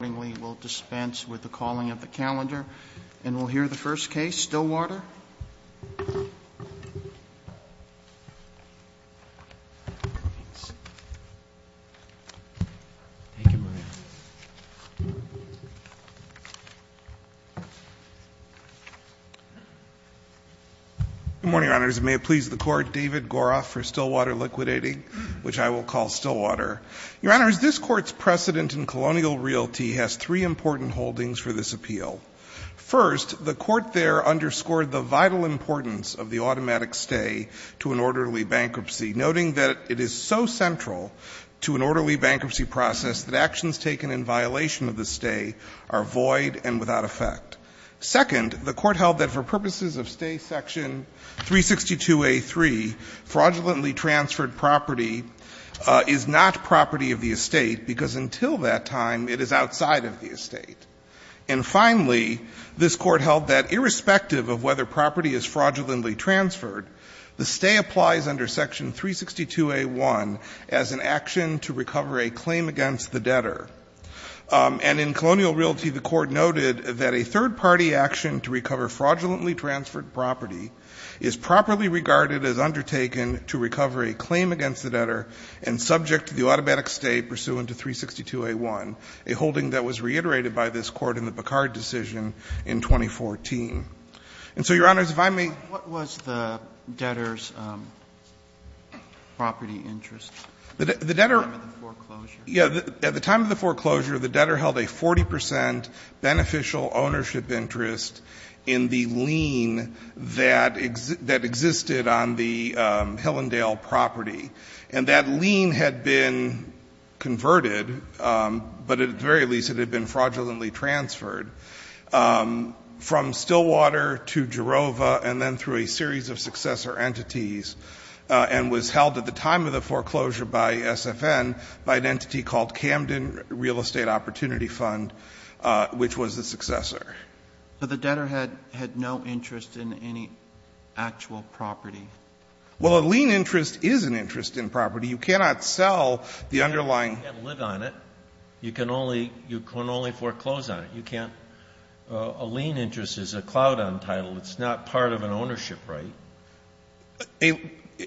Morning, we will dispense with the calling of the calendar and we'll hear the first case, Stillwater. Good morning, Your Honor. As it may please the Court, David Goroff for Stillwater Liquidating, which I will call Stillwater. Your Honor, this Court's precedent in colonial realty has three important holdings for this appeal. First, the Court there underscored the vital importance of the automatic stay to an orderly bankruptcy, noting that it is so central to an orderly bankruptcy process that actions taken in violation of the stay are void and without effect. Second, the Court held that for purposes of stay section 362A.3, fraudulently transferred property is not property of the estate, because until that time it is outside of the estate. And finally, this Court held that irrespective of whether property is fraudulently transferred, the stay applies under section 362A.1 as an action to recover a claim against the debtor. And in colonial realty, the Court noted that a third-party action to recover fraudulently transferred property is properly regarded as undertaken to recover a claim against the debtor and subject to the automatic stay pursuant to 362A.1, a holding that was reiterated by this Court in the Picard decision in 2014. And so, Your Honors, if I may? Roberts. What was the debtor's property interest at the time of the foreclosure? Yeah. At the time of the foreclosure, the debtor held a 40 percent beneficial ownership interest in the lien that existed on the Hillendale property. And that lien had been converted, but at the very least it had been fraudulently transferred, from Stillwater to Jerova and then through a series of successor entities, and was held at the time of the foreclosure by SFN by an entity called Camden Real Estate Opportunity Fund, which was the successor. But the debtor had no interest in any actual property. Well, a lien interest is an interest in property. You cannot sell the underlying. You can't live on it. You can only foreclose on it. You can't. A lien interest is a cloud on title. It's not part of an ownership right.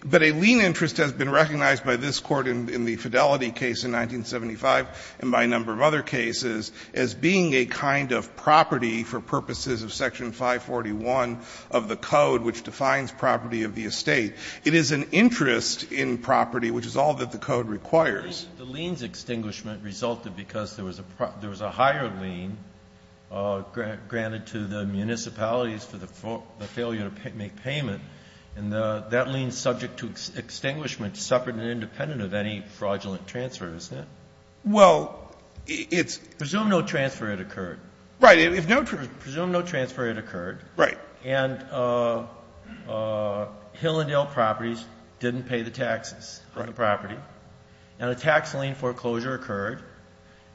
But a lien interest has been recognized by this Court in the Fidelity case in 1975 and by a number of other cases as being a kind of property for purposes of Section 541 of the Code, which defines property of the estate. It is an interest in property, which is all that the Code requires. The liens extinguishment resulted because there was a higher lien granted to the municipalities for the failure to make payment, and that lien subject to extinguishment suffered and independent of any fraudulent transfer, isn't it? Well, it's – Presume no transfer had occurred. Right. If no – Presume no transfer had occurred. Right. And Hill and Dale Properties didn't pay the taxes on the property. And a tax lien foreclosure occurred,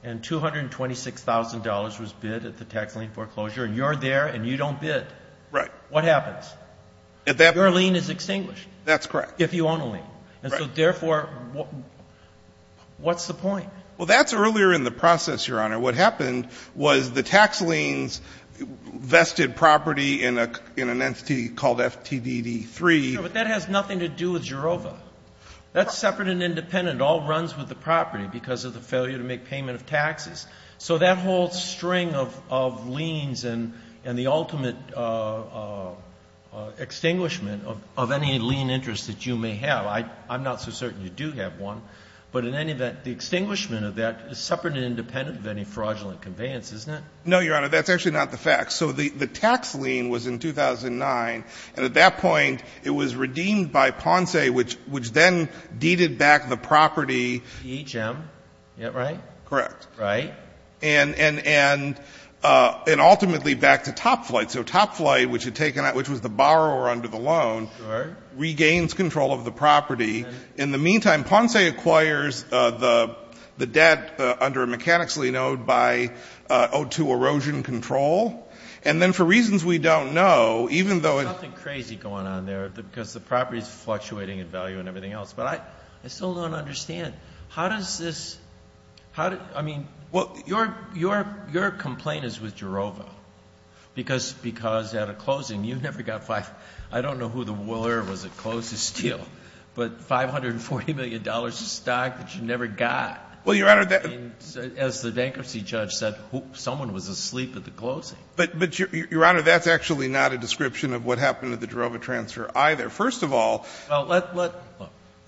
and $226,000 was bid at the tax lien foreclosure. And you're there, and you don't bid. Right. What happens? At that – Your lien is extinguished. That's correct. If you own a lien. Right. And so therefore, what's the point? Well, that's earlier in the process, Your Honor. What happened was the tax liens vested property in an entity called FTDD-3. Sure, but that has nothing to do with Gerova. That's separate and independent. It all runs with the property because of the failure to make payment of taxes. So that whole string of liens and the ultimate extinguishment of any lien interest that you may have, I'm not so certain you do have one. But in any event, the extinguishment of that is separate and independent of any fraudulent conveyance, isn't it? No, Your Honor. That's actually not the fact. So the tax lien was in 2009, and at that point it was redeemed by Ponce, which then deeded back the property. EHM, is that right? Correct. Right. And ultimately back to Top Flight. So Top Flight, which was the borrower under the loan, regains control of the property. In the meantime, Ponce acquires the debt under a mechanics lien owed by O2 erosion control, and then for reasons we don't know, even though it's... There's something crazy going on there because the property's fluctuating in value and everything else, but I still don't understand. How does this... I mean, your complaint is with Gerova because at a closing, you never got... I don't know who the willer was that closed the steel, but $540 million of stock that you never got. Well, Your Honor... As the bankruptcy judge said, someone was asleep at the closing. But, Your Honor, that's actually not a description of what happened at the Gerova transfer either. First of all... Well, let...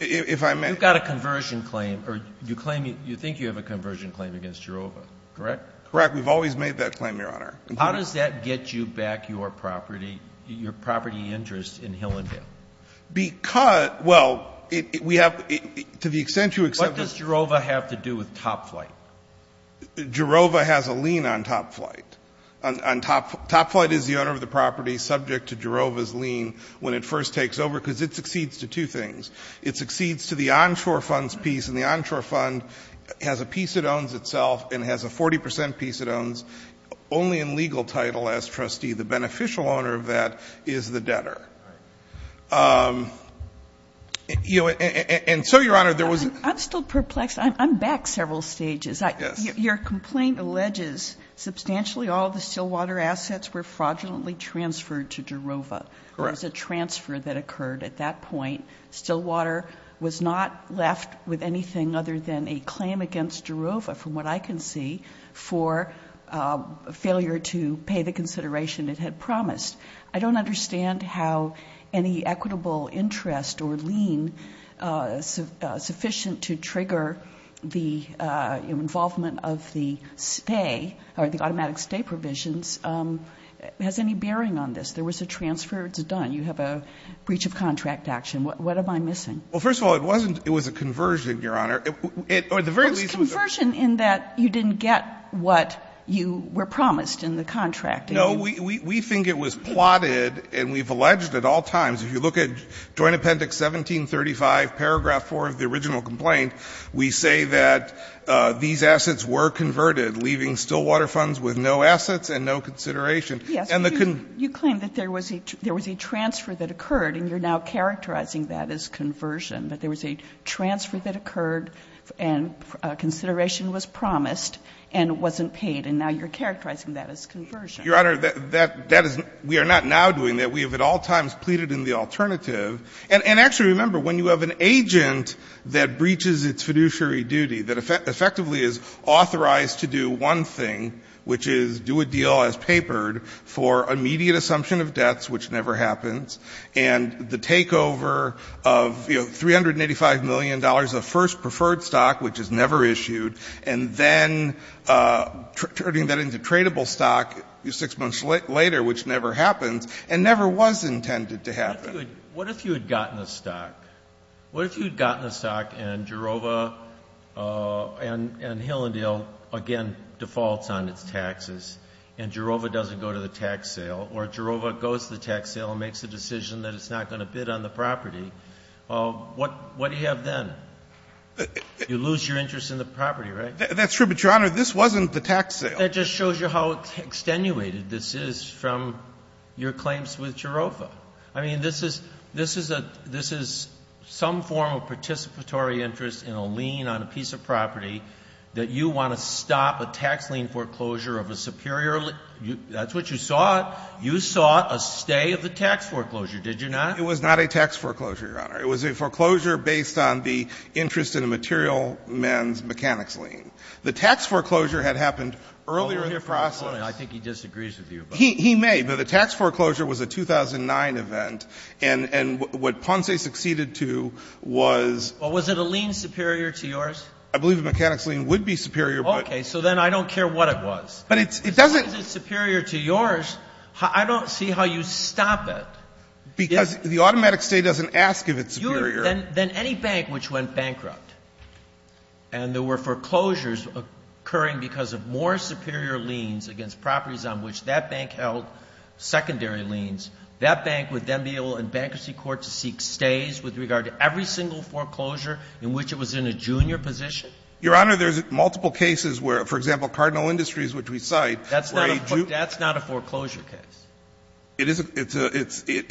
If I may... You've got a conversion claim, or you claim you think you have a conversion claim against Gerova, correct? Correct. We've always made that claim, Your Honor. How does that get you back your property, your property interest in Hillendale? Because, well, we have, to the extent you accept... What does Gerova have to do with Top Flight? Gerova has a lien on Top Flight. Top Flight is the owner of the property subject to Gerova's lien when it first takes over because it succeeds to two things. It succeeds to the onshore funds piece, and the onshore fund has a piece it owns itself and has a 40% piece it owns, only in legal title as trustee. The beneficial owner of that is the debtor. And so, Your Honor, there was... I'm still perplexed. I'm back several stages. Yes. Your complaint alleges substantially all the Stillwater assets were fraudulently transferred to Gerova. Correct. There was a transfer that occurred at that point. Stillwater was not left with anything other than a claim against Gerova, from what I can see, for failure to pay the consideration it had promised. I don't understand how any equitable interest or lien sufficient to trigger the involvement of the stay or the automatic stay provisions has any bearing on this. There was a transfer. It's done. You have a breach of contract action. What am I missing? Well, first of all, it wasn't... It was a conversion, Your Honor, or at the very least... It was a conversion in that you didn't get what you were promised in the contract. No. We think it was plotted and we've alleged at all times, if you look at Joint Appendix 1735, paragraph 4 of the original complaint, we say that these assets were converted, leaving Stillwater funds with no assets and no consideration. Yes. And the... You claim that there was a transfer that occurred and you're now characterizing that as conversion, that there was a transfer that occurred and consideration was promised and wasn't paid. And now you're characterizing that as conversion. Your Honor, that is... We are not now doing that. We have at all times pleaded in the alternative. And actually remember, when you have an agent that breaches its fiduciary duty, that effectively is authorized to do one thing, which is do a deal as papered for immediate assumption of debts, which never happens, and the takeover of, you know, $385 million of first preferred stock, which is never issued, and then turning that into tradable stock 6 months later, which never happens and never was intended to happen. What if you had gotten the stock? What if you had gotten the stock and Jerova and Hill & Dale, again, defaults on its taxes and Jerova doesn't go to the tax sale or Jerova goes to the tax sale and makes a decision that it's not going to bid on the property? What do you have then? You lose your interest in the property, right? That's true. But, Your Honor, this wasn't the tax sale. But that just shows you how extenuated this is from your claims with Jerova. I mean, this is some form of participatory interest in a lien on a piece of property that you want to stop a tax lien foreclosure of a superior lien. That's what you sought. You sought a stay of the tax foreclosure, did you not? It was not a tax foreclosure, Your Honor. It was a foreclosure based on the interest in a material man's mechanics lien. The tax foreclosure had happened earlier in the process. I think he disagrees with you. He may. But the tax foreclosure was a 2009 event. And what Ponce succeeded to was was it a lien superior to yours? I believe a mechanics lien would be superior. Okay. So then I don't care what it was. But it doesn't. If it's superior to yours, I don't see how you stop it. Because the automatic stay doesn't ask if it's superior. Then any bank which went bankrupt and there were foreclosures occurring because of more superior liens against properties on which that bank held secondary liens, that bank would then be able in bankruptcy court to seek stays with regard to every single foreclosure in which it was in a junior position? Your Honor, there's multiple cases where, for example, Cardinal Industries, which we cite, were a junior. That's not a foreclosure case. It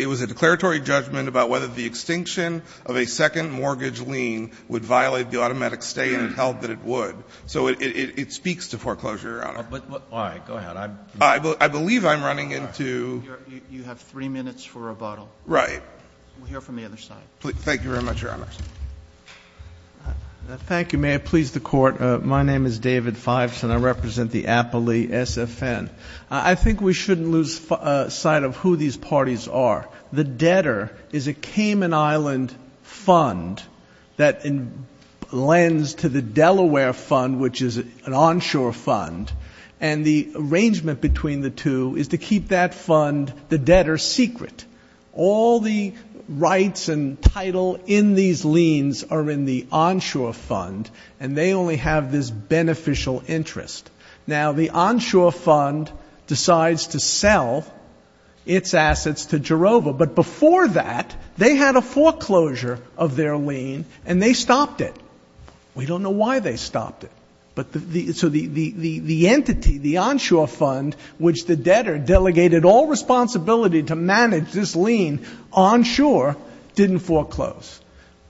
was a declaratory judgment about whether the extinction of a second mortgage lien would violate the automatic stay and it held that it would. So it speaks to foreclosure, Your Honor. All right. Go ahead. I believe I'm running into You have three minutes for rebuttal. Right. We'll hear from the other side. Thank you very much, Your Honor. Thank you. May it please the Court. My name is David Fives and I represent the Appley SFN. I think we shouldn't lose sight of who these parties are. The debtor is a Cayman Island fund that lends to the Delaware fund, which is an onshore fund, and the arrangement between the two is to keep that fund, the debtor, secret. All the rights and title in these liens are in the onshore fund and they only have this beneficial interest. Now, the onshore fund decides to sell its assets to Jerova, but before that, they had a foreclosure of their lien and they stopped it. We don't know why they stopped it. So the entity, the onshore fund, which the debtor delegated all responsibility to manage this lien onshore, didn't foreclose.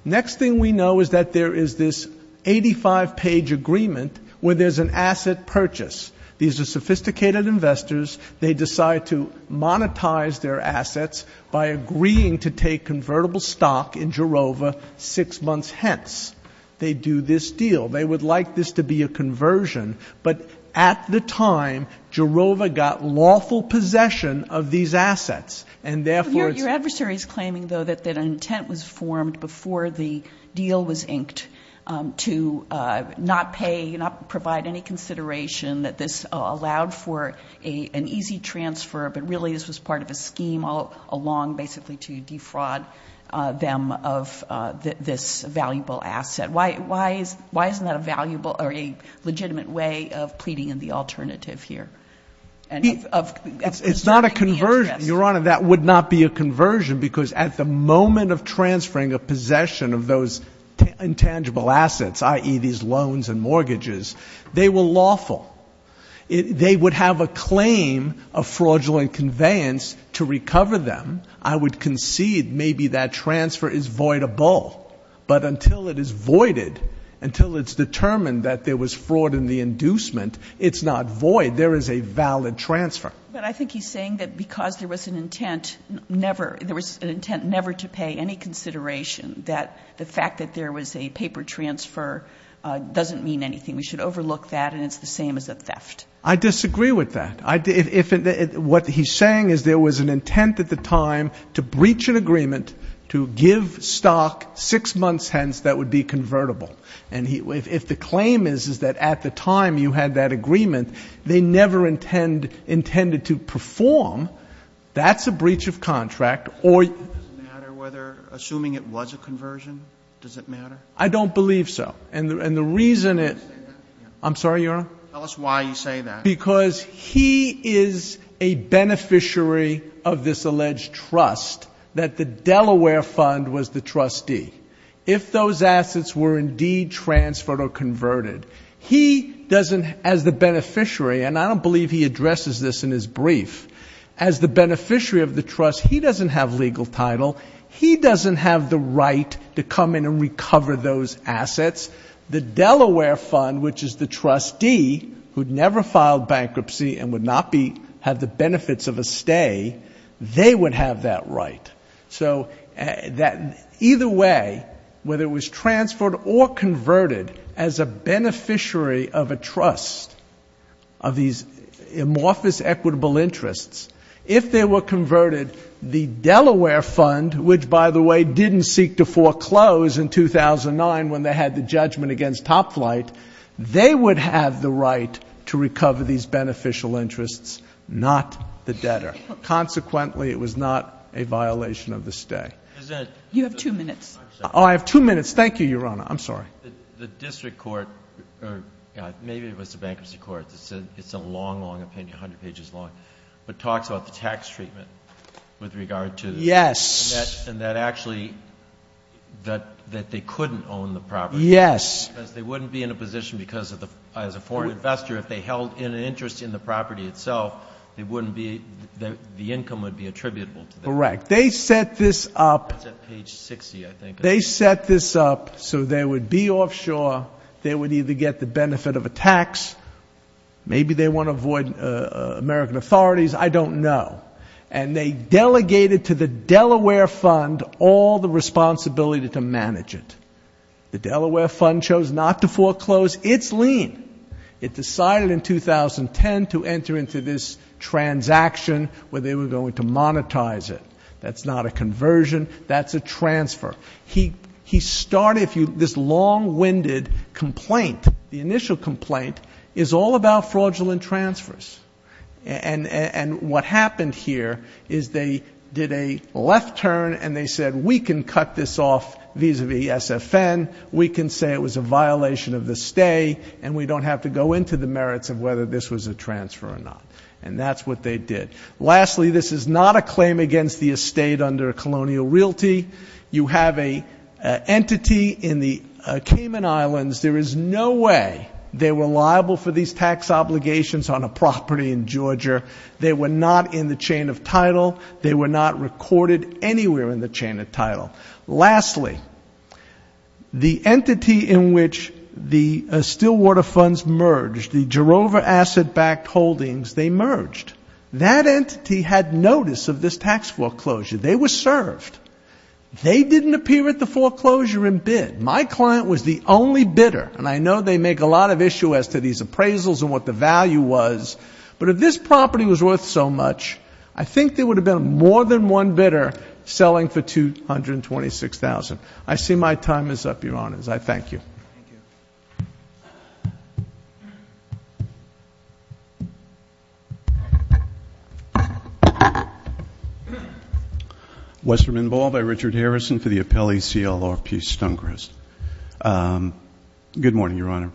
Next thing we know is that there is this 85-page agreement where there's an asset purchase. These are sophisticated investors. They decide to monetize their assets by agreeing to take convertible stock in Jerova six months hence. They do this deal. They would like this to be a conversion, but at the time, Jerova got lawful possession of these assets and therefore it's... Your adversary is claiming, though, that an intent was formed before the deal was that this allowed for an easy transfer, but really this was part of a scheme all along basically to defraud them of this valuable asset. Why isn't that a legitimate way of pleading in the alternative here? It's not a conversion, Your Honor. That would not be a conversion because at the moment of transferring a possession of those intangible assets, i.e., these loans and mortgages, they were lawful. They would have a claim of fraudulent conveyance to recover them. I would concede maybe that transfer is voidable, but until it is voided, until it's determined that there was fraud in the inducement, it's not void. There is a valid transfer. But I think he's saying that because there was an intent never to pay any consideration that the fact that there was a paper transfer doesn't mean anything. We should overlook that and it's the same as a theft. I disagree with that. What he's saying is there was an intent at the time to breach an agreement to give stock six months hence that would be convertible. And if the claim is that at the time you had that agreement, they never intended to perform, that's a breach of contract or... Does it matter whether, assuming it was a conversion, does it matter? I don't believe so. And the reason it... I'm sorry, Your Honor? Tell us why you say that. Because he is a beneficiary of this alleged trust that the Delaware Fund was the trustee. If those assets were indeed transferred or converted, he doesn't, as the beneficiary, and I don't believe he addresses this in his brief, as the beneficiary of the trust, he doesn't have legal title. He doesn't have the right to come in and recover those assets. The Delaware Fund, which is the trustee, who'd never filed bankruptcy and would not be... have the benefits of a stay, they would have that right. So either way, whether it was transferred or converted as a beneficiary of a trust of these amorphous equitable interests, if they were converted, the Delaware Fund, which, by the way, didn't seek to foreclose in 2009 when they had the judgment against top flight, they would have the right to recover these beneficial interests, not the debtor. Consequently, it was not a violation of the stay. You have two minutes. Oh, I have two minutes. Thank you, Your Honor. I'm sorry. The district court, or maybe it was the bankruptcy court, it's a long, long opinion, 100 pages long, but talks about the tax treatment with regard to... Yes. ...and that actually, that they couldn't own the property... Yes. ...because they wouldn't be in a position because of the... as a foreign investor, if they held an interest in the property itself, they wouldn't be... the income would be attributable to them. Correct. They set this up... It's at page 60, I think. They set this up so they would be offshore, they would either get the benefit of a tax, maybe they want to avoid American authorities, I don't know, and they delegated to the Delaware Fund all the responsibility to manage it. The Delaware Fund chose not to foreclose its lien. It decided in 2010 to enter into this transaction where they were going to monetize it. That's not a conversion, that's a transfer. He started, if you... this long-winded complaint, the initial complaint, is all about fraudulent transfers. And what happened here is they did a left turn and they said, we can cut this off vis-à-vis SFN, we can say it was a violation of the stay, and we don't have to go into the merits of whether this was a transfer or not. And that's what they did. Lastly, this is not a claim against the estate under colonial realty. You have an entity in the Cayman Islands. There is no way they were liable for these tax obligations on a property in Georgia. They were not in the chain of title. They were not recorded anywhere in the chain of title. Lastly, the entity in which the Stillwater Funds merged, the Jerova Asset-backed holdings, they merged. That entity had notice of this tax foreclosure. They were served. They didn't appear at the foreclosure in bid. My client was the only bidder, and I know they make a lot of issue as to these appraisals and what the value was, but if this property was worth so much, I think there would have been more than one bidder selling for $226,000. I see my time is up, Your Honors. I thank you. Thank you. Westerman Ball by Richard Harrison for the Appellee CLRP-Stonecrest. Good morning, Your Honor.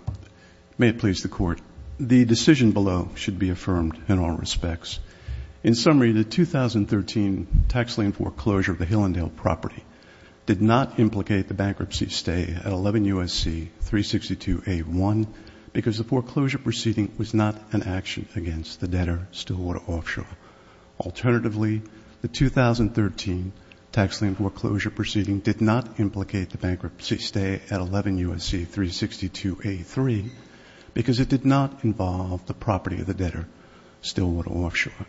May it please the Court. The decision below should be affirmed in all respects. In summary, the 2013 tax lien foreclosure of the Hillandale property did not implicate the bankruptcy stay at 11 U.S.C. 362A1 because the foreclosure proceeding was not an action against the debtor, Stillwater Offshore. Alternatively, the 2013 tax lien foreclosure proceeding did not implicate the bankruptcy stay at 11 U.S.C. 362A3 because it did not involve the property of the debtor, Stillwater Offshore.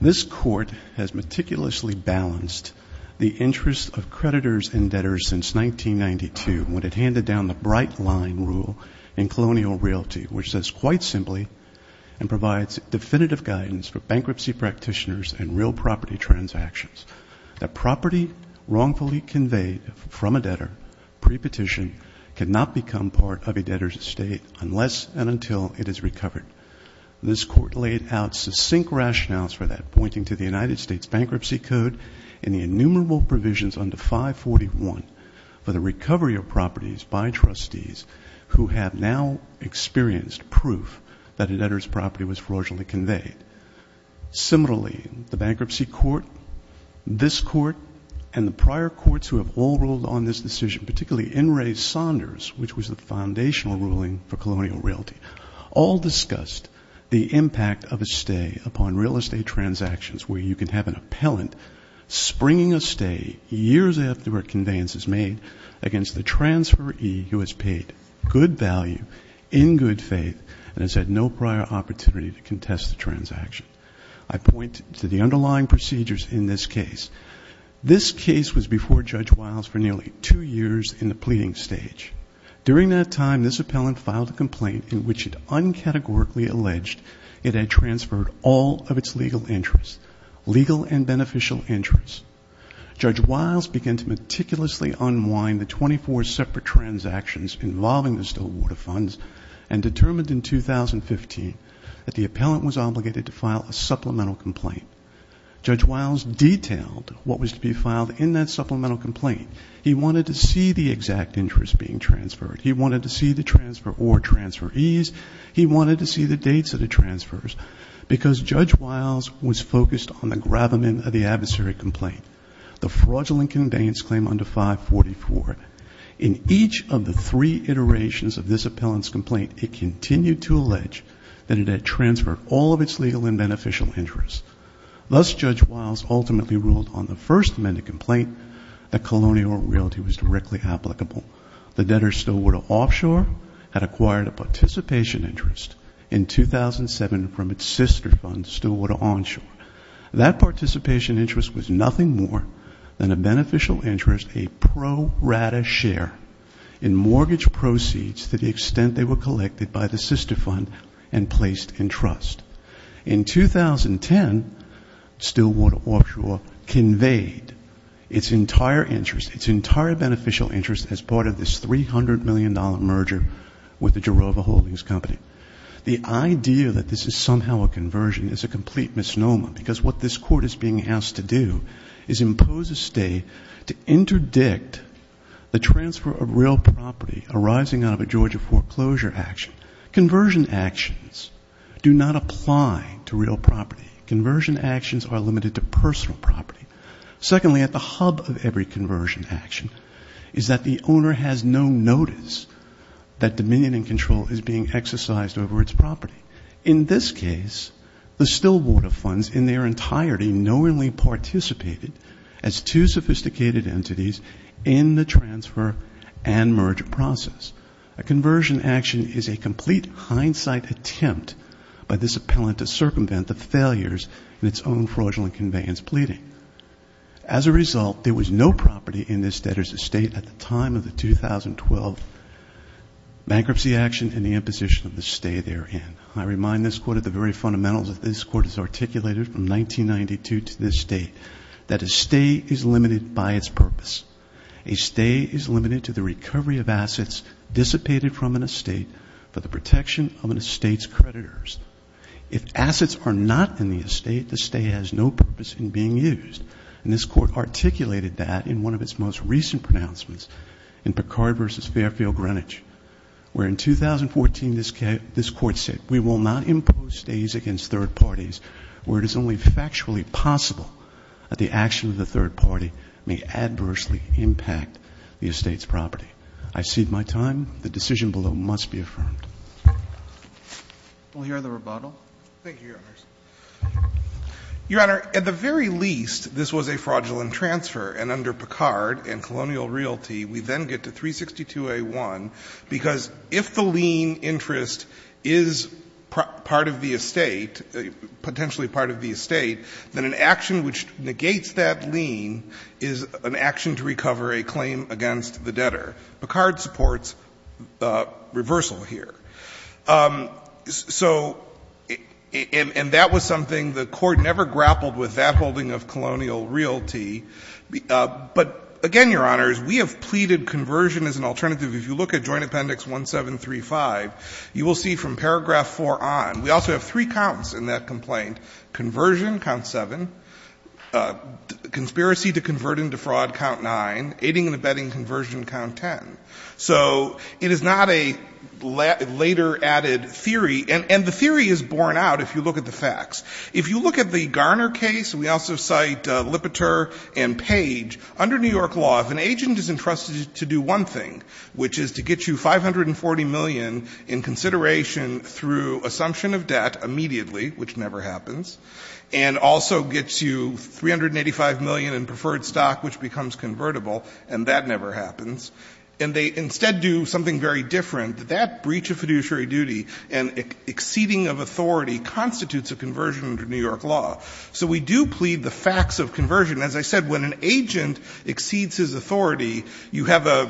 This Court has meticulously balanced the interest of creditors and debtors since 1992 when it handed down the bright line rule in colonial realty, which says quite simply and provides definitive guidance for bankruptcy practitioners and real property transactions that property wrongfully conveyed from a debtor pre-petition cannot become part of a debtor's estate unless and until it is recovered. This Court laid out succinct rationales for that, pointing to the United States Bankruptcy Code and the innumerable provisions under 541 for the recovery of properties by trustees who have now experienced proof that a debtor's property was fraudulently conveyed. Similarly, the Bankruptcy Court, this Court, and the prior courts who have all ruled on this decision, particularly N. Ray Saunders, which was the foundational ruling for colonial realty, all discussed the impact of a stay upon real estate transactions where you can have an appellant springing a stay years after a conveyance is made against the transferee who has paid good value in good faith and has had no prior opportunity to contest the transaction. I point to the underlying procedures in this case. This case was before Judge Wiles for nearly two years in the pleading stage. During that time, this appellant filed a complaint in which it uncategorically alleged it had transferred all of its legal interests, legal and beneficial interests. Judge Wiles began to meticulously unwind the 24 separate transactions involving the Stillwater Funds and determined in 2015 that the appellant was obligated to file a supplemental complaint. Judge Wiles detailed what was to be filed in that supplemental complaint. He wanted to see the exact interest being transferred. He wanted to see the transfer or transferees. He wanted to see the dates of the transfers because Judge Wiles was focused on the gravamen of the adversary complaint, the fraudulent conveyance claim under 544. In each of the three iterations of this appellant's complaint, it continued to allege that it had transferred all of its legal and beneficial interests. Thus, Judge Wiles ultimately ruled on the first amended complaint that colonial realty was directly applicable. The debtor Stillwater Offshore had acquired a participation interest in 2007 from its sister fund, Stillwater Onshore. That participation interest was nothing more than a beneficial interest, a pro rata share, in mortgage proceeds to the extent they were collected by the sister fund and placed in trust. In 2010, Stillwater Offshore conveyed its entire interest, its entire beneficial interest as part of this $300 million merger with the Jerova Holdings Company. The idea that this is somehow a conversion is a complete misnomer because what this court is being asked to do is impose a stay to interdict the transfer of real property arising out of a Georgia foreclosure action. Conversion actions do not apply to real property. Conversion actions are limited to personal property. Secondly, at the hub of every conversion action is that the owner has no notice that dominion and control is being exercised over its property. In this case, the Stillwater funds in their entirety knowingly participated as two sophisticated entities in the transfer and merger process. A conversion action is a complete hindsight attempt by this appellant to circumvent the failures in its own fraudulent conveyance pleading. As a result, there was no property in this debtor's estate at the time of the 2012 bankruptcy action and the imposition of the stay therein. I remind this Court of the very fundamentals that this Court has articulated from 1992 to this date, that a stay is limited by its purpose. A stay is limited to the recovery of assets dissipated from an estate for the protection of an estate's creditors. If assets are not in the estate, the stay has no purpose in being used. And this Court articulated that in one of its most recent pronouncements in Picard v. Fairfield Greenwich, where in 2014 this Court said, we will not impose stays against third parties where it is only factually possible that the action of the third party may adversely impact the estate's property. I cede my time. The decision below must be affirmed. Roberts. We'll hear the rebuttal. Thank you, Your Honors. Your Honor, at the very least, this was a fraudulent transfer. And under Picard and colonial realty, we then get to 362a1, because if the lien interest is part of the estate, potentially part of the estate, then an action which negates that lien is an action to recover a claim against the debtor. Picard supports reversal here. So, and that was something the Court never grappled with, that holding of colonial realty. But again, Your Honors, we have pleaded conversion as an alternative. If you look at Joint Appendix 1735, you will see from paragraph 4 on. We also have three counts in that complaint. Conversion, count 7. Conspiracy to convert into fraud, count 9. Aiding and abetting conversion, count 10. So it is not a later added theory. And the theory is borne out if you look at the facts. If you look at the Garner case, and we also cite Lipeter and Page, under New York law, if an agent is entrusted to do one thing, which is to get you 540 million in consideration through assumption of debt immediately, which never happens, and also gets you 385 million in preferred stock, which becomes convertible, and that never happens, and they instead do something very different, that that breach of fiduciary duty and exceeding of authority constitutes a conversion under New York law. So we do plead the facts of conversion. As I said, when an agent exceeds his authority, you have a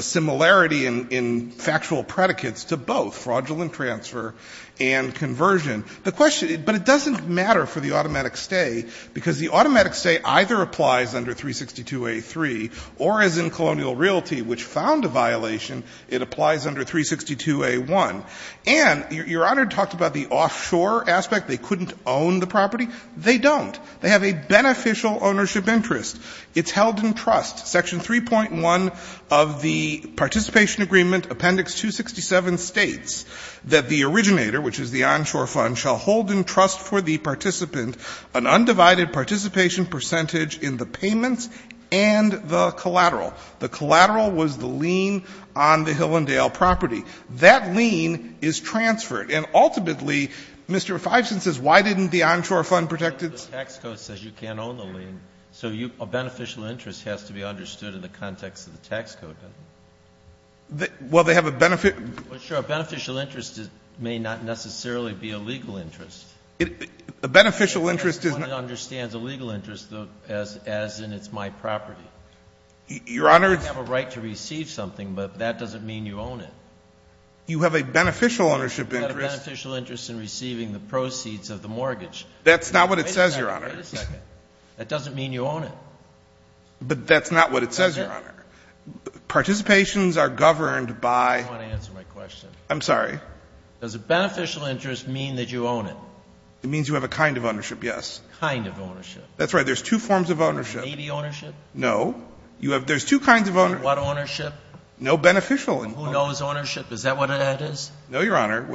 similarity in factual predicates to both, fraudulent transfer and conversion. The question — but it doesn't matter for the automatic stay, because the automatic stay either applies under 362a3, or as in Colonial Realty, which found a violation, it applies under 362a1. And Your Honor talked about the offshore aspect. They couldn't own the property. They don't. They have a beneficial ownership interest. It's held in trust. Section 3.1 of the Participation Agreement, Appendix 267, states that the originator, which is the onshore fund, shall hold in trust for the participant an undivided participation percentage in the payments and the collateral. The collateral was the lien on the Hill and Dale property. That lien is transferred. And ultimately, Mr. Feinstein says, why didn't the onshore fund protect its — The tax code says you can't own the lien, so a beneficial interest has to be understood in the context of the tax code, doesn't it? Well, they have a benefit — Sure. A beneficial interest may not necessarily be a legal interest. A beneficial interest is not — Nobody understands a legal interest as in it's my property. Your Honor — You have a right to receive something, but that doesn't mean you own it. You have a beneficial ownership interest — You have a beneficial interest in receiving the proceeds of the mortgage. That's not what it says, Your Honor. Wait a second. That doesn't mean you own it. But that's not what it says, Your Honor. Participations are governed by — I don't want to answer my question. I'm sorry. Does a beneficial interest mean that you own it? It means you have a kind of ownership, yes. Kind of ownership. That's right. There's two forms of ownership. Navy ownership? No. There's two kinds of ownership. What ownership? No beneficial ownership. Who knows ownership? Is that what it is? No, Your Honor.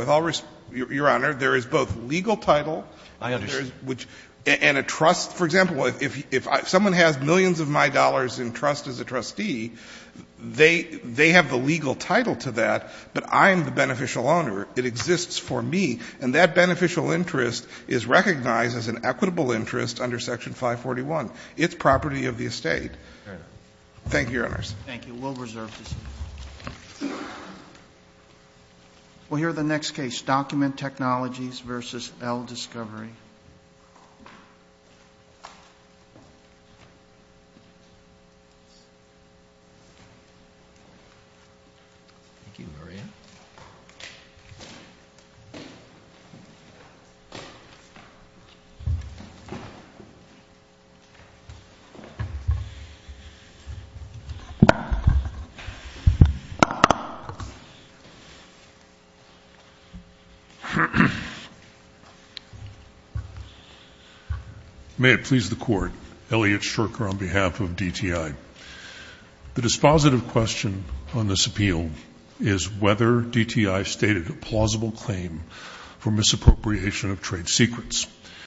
Your Honor, there is both legal title — I understand. — and a trust. For example, if someone has millions of my dollars in trust as a trustee, they have the legal title to that, but I'm the beneficial owner. It exists for me. And that beneficial interest is recognized as an equitable interest under Section 541. It's property of the estate. Thank you, Your Honors. Thank you. We'll reserve this. We'll hear the next case, Document Technologies v. L Discovery. Thank you, Maria. May it please the Court, Elliot Stricker on behalf of DTI. The dispositive question on this appeal is whether DTI stated a plausible claim for misappropriation of trade secrets.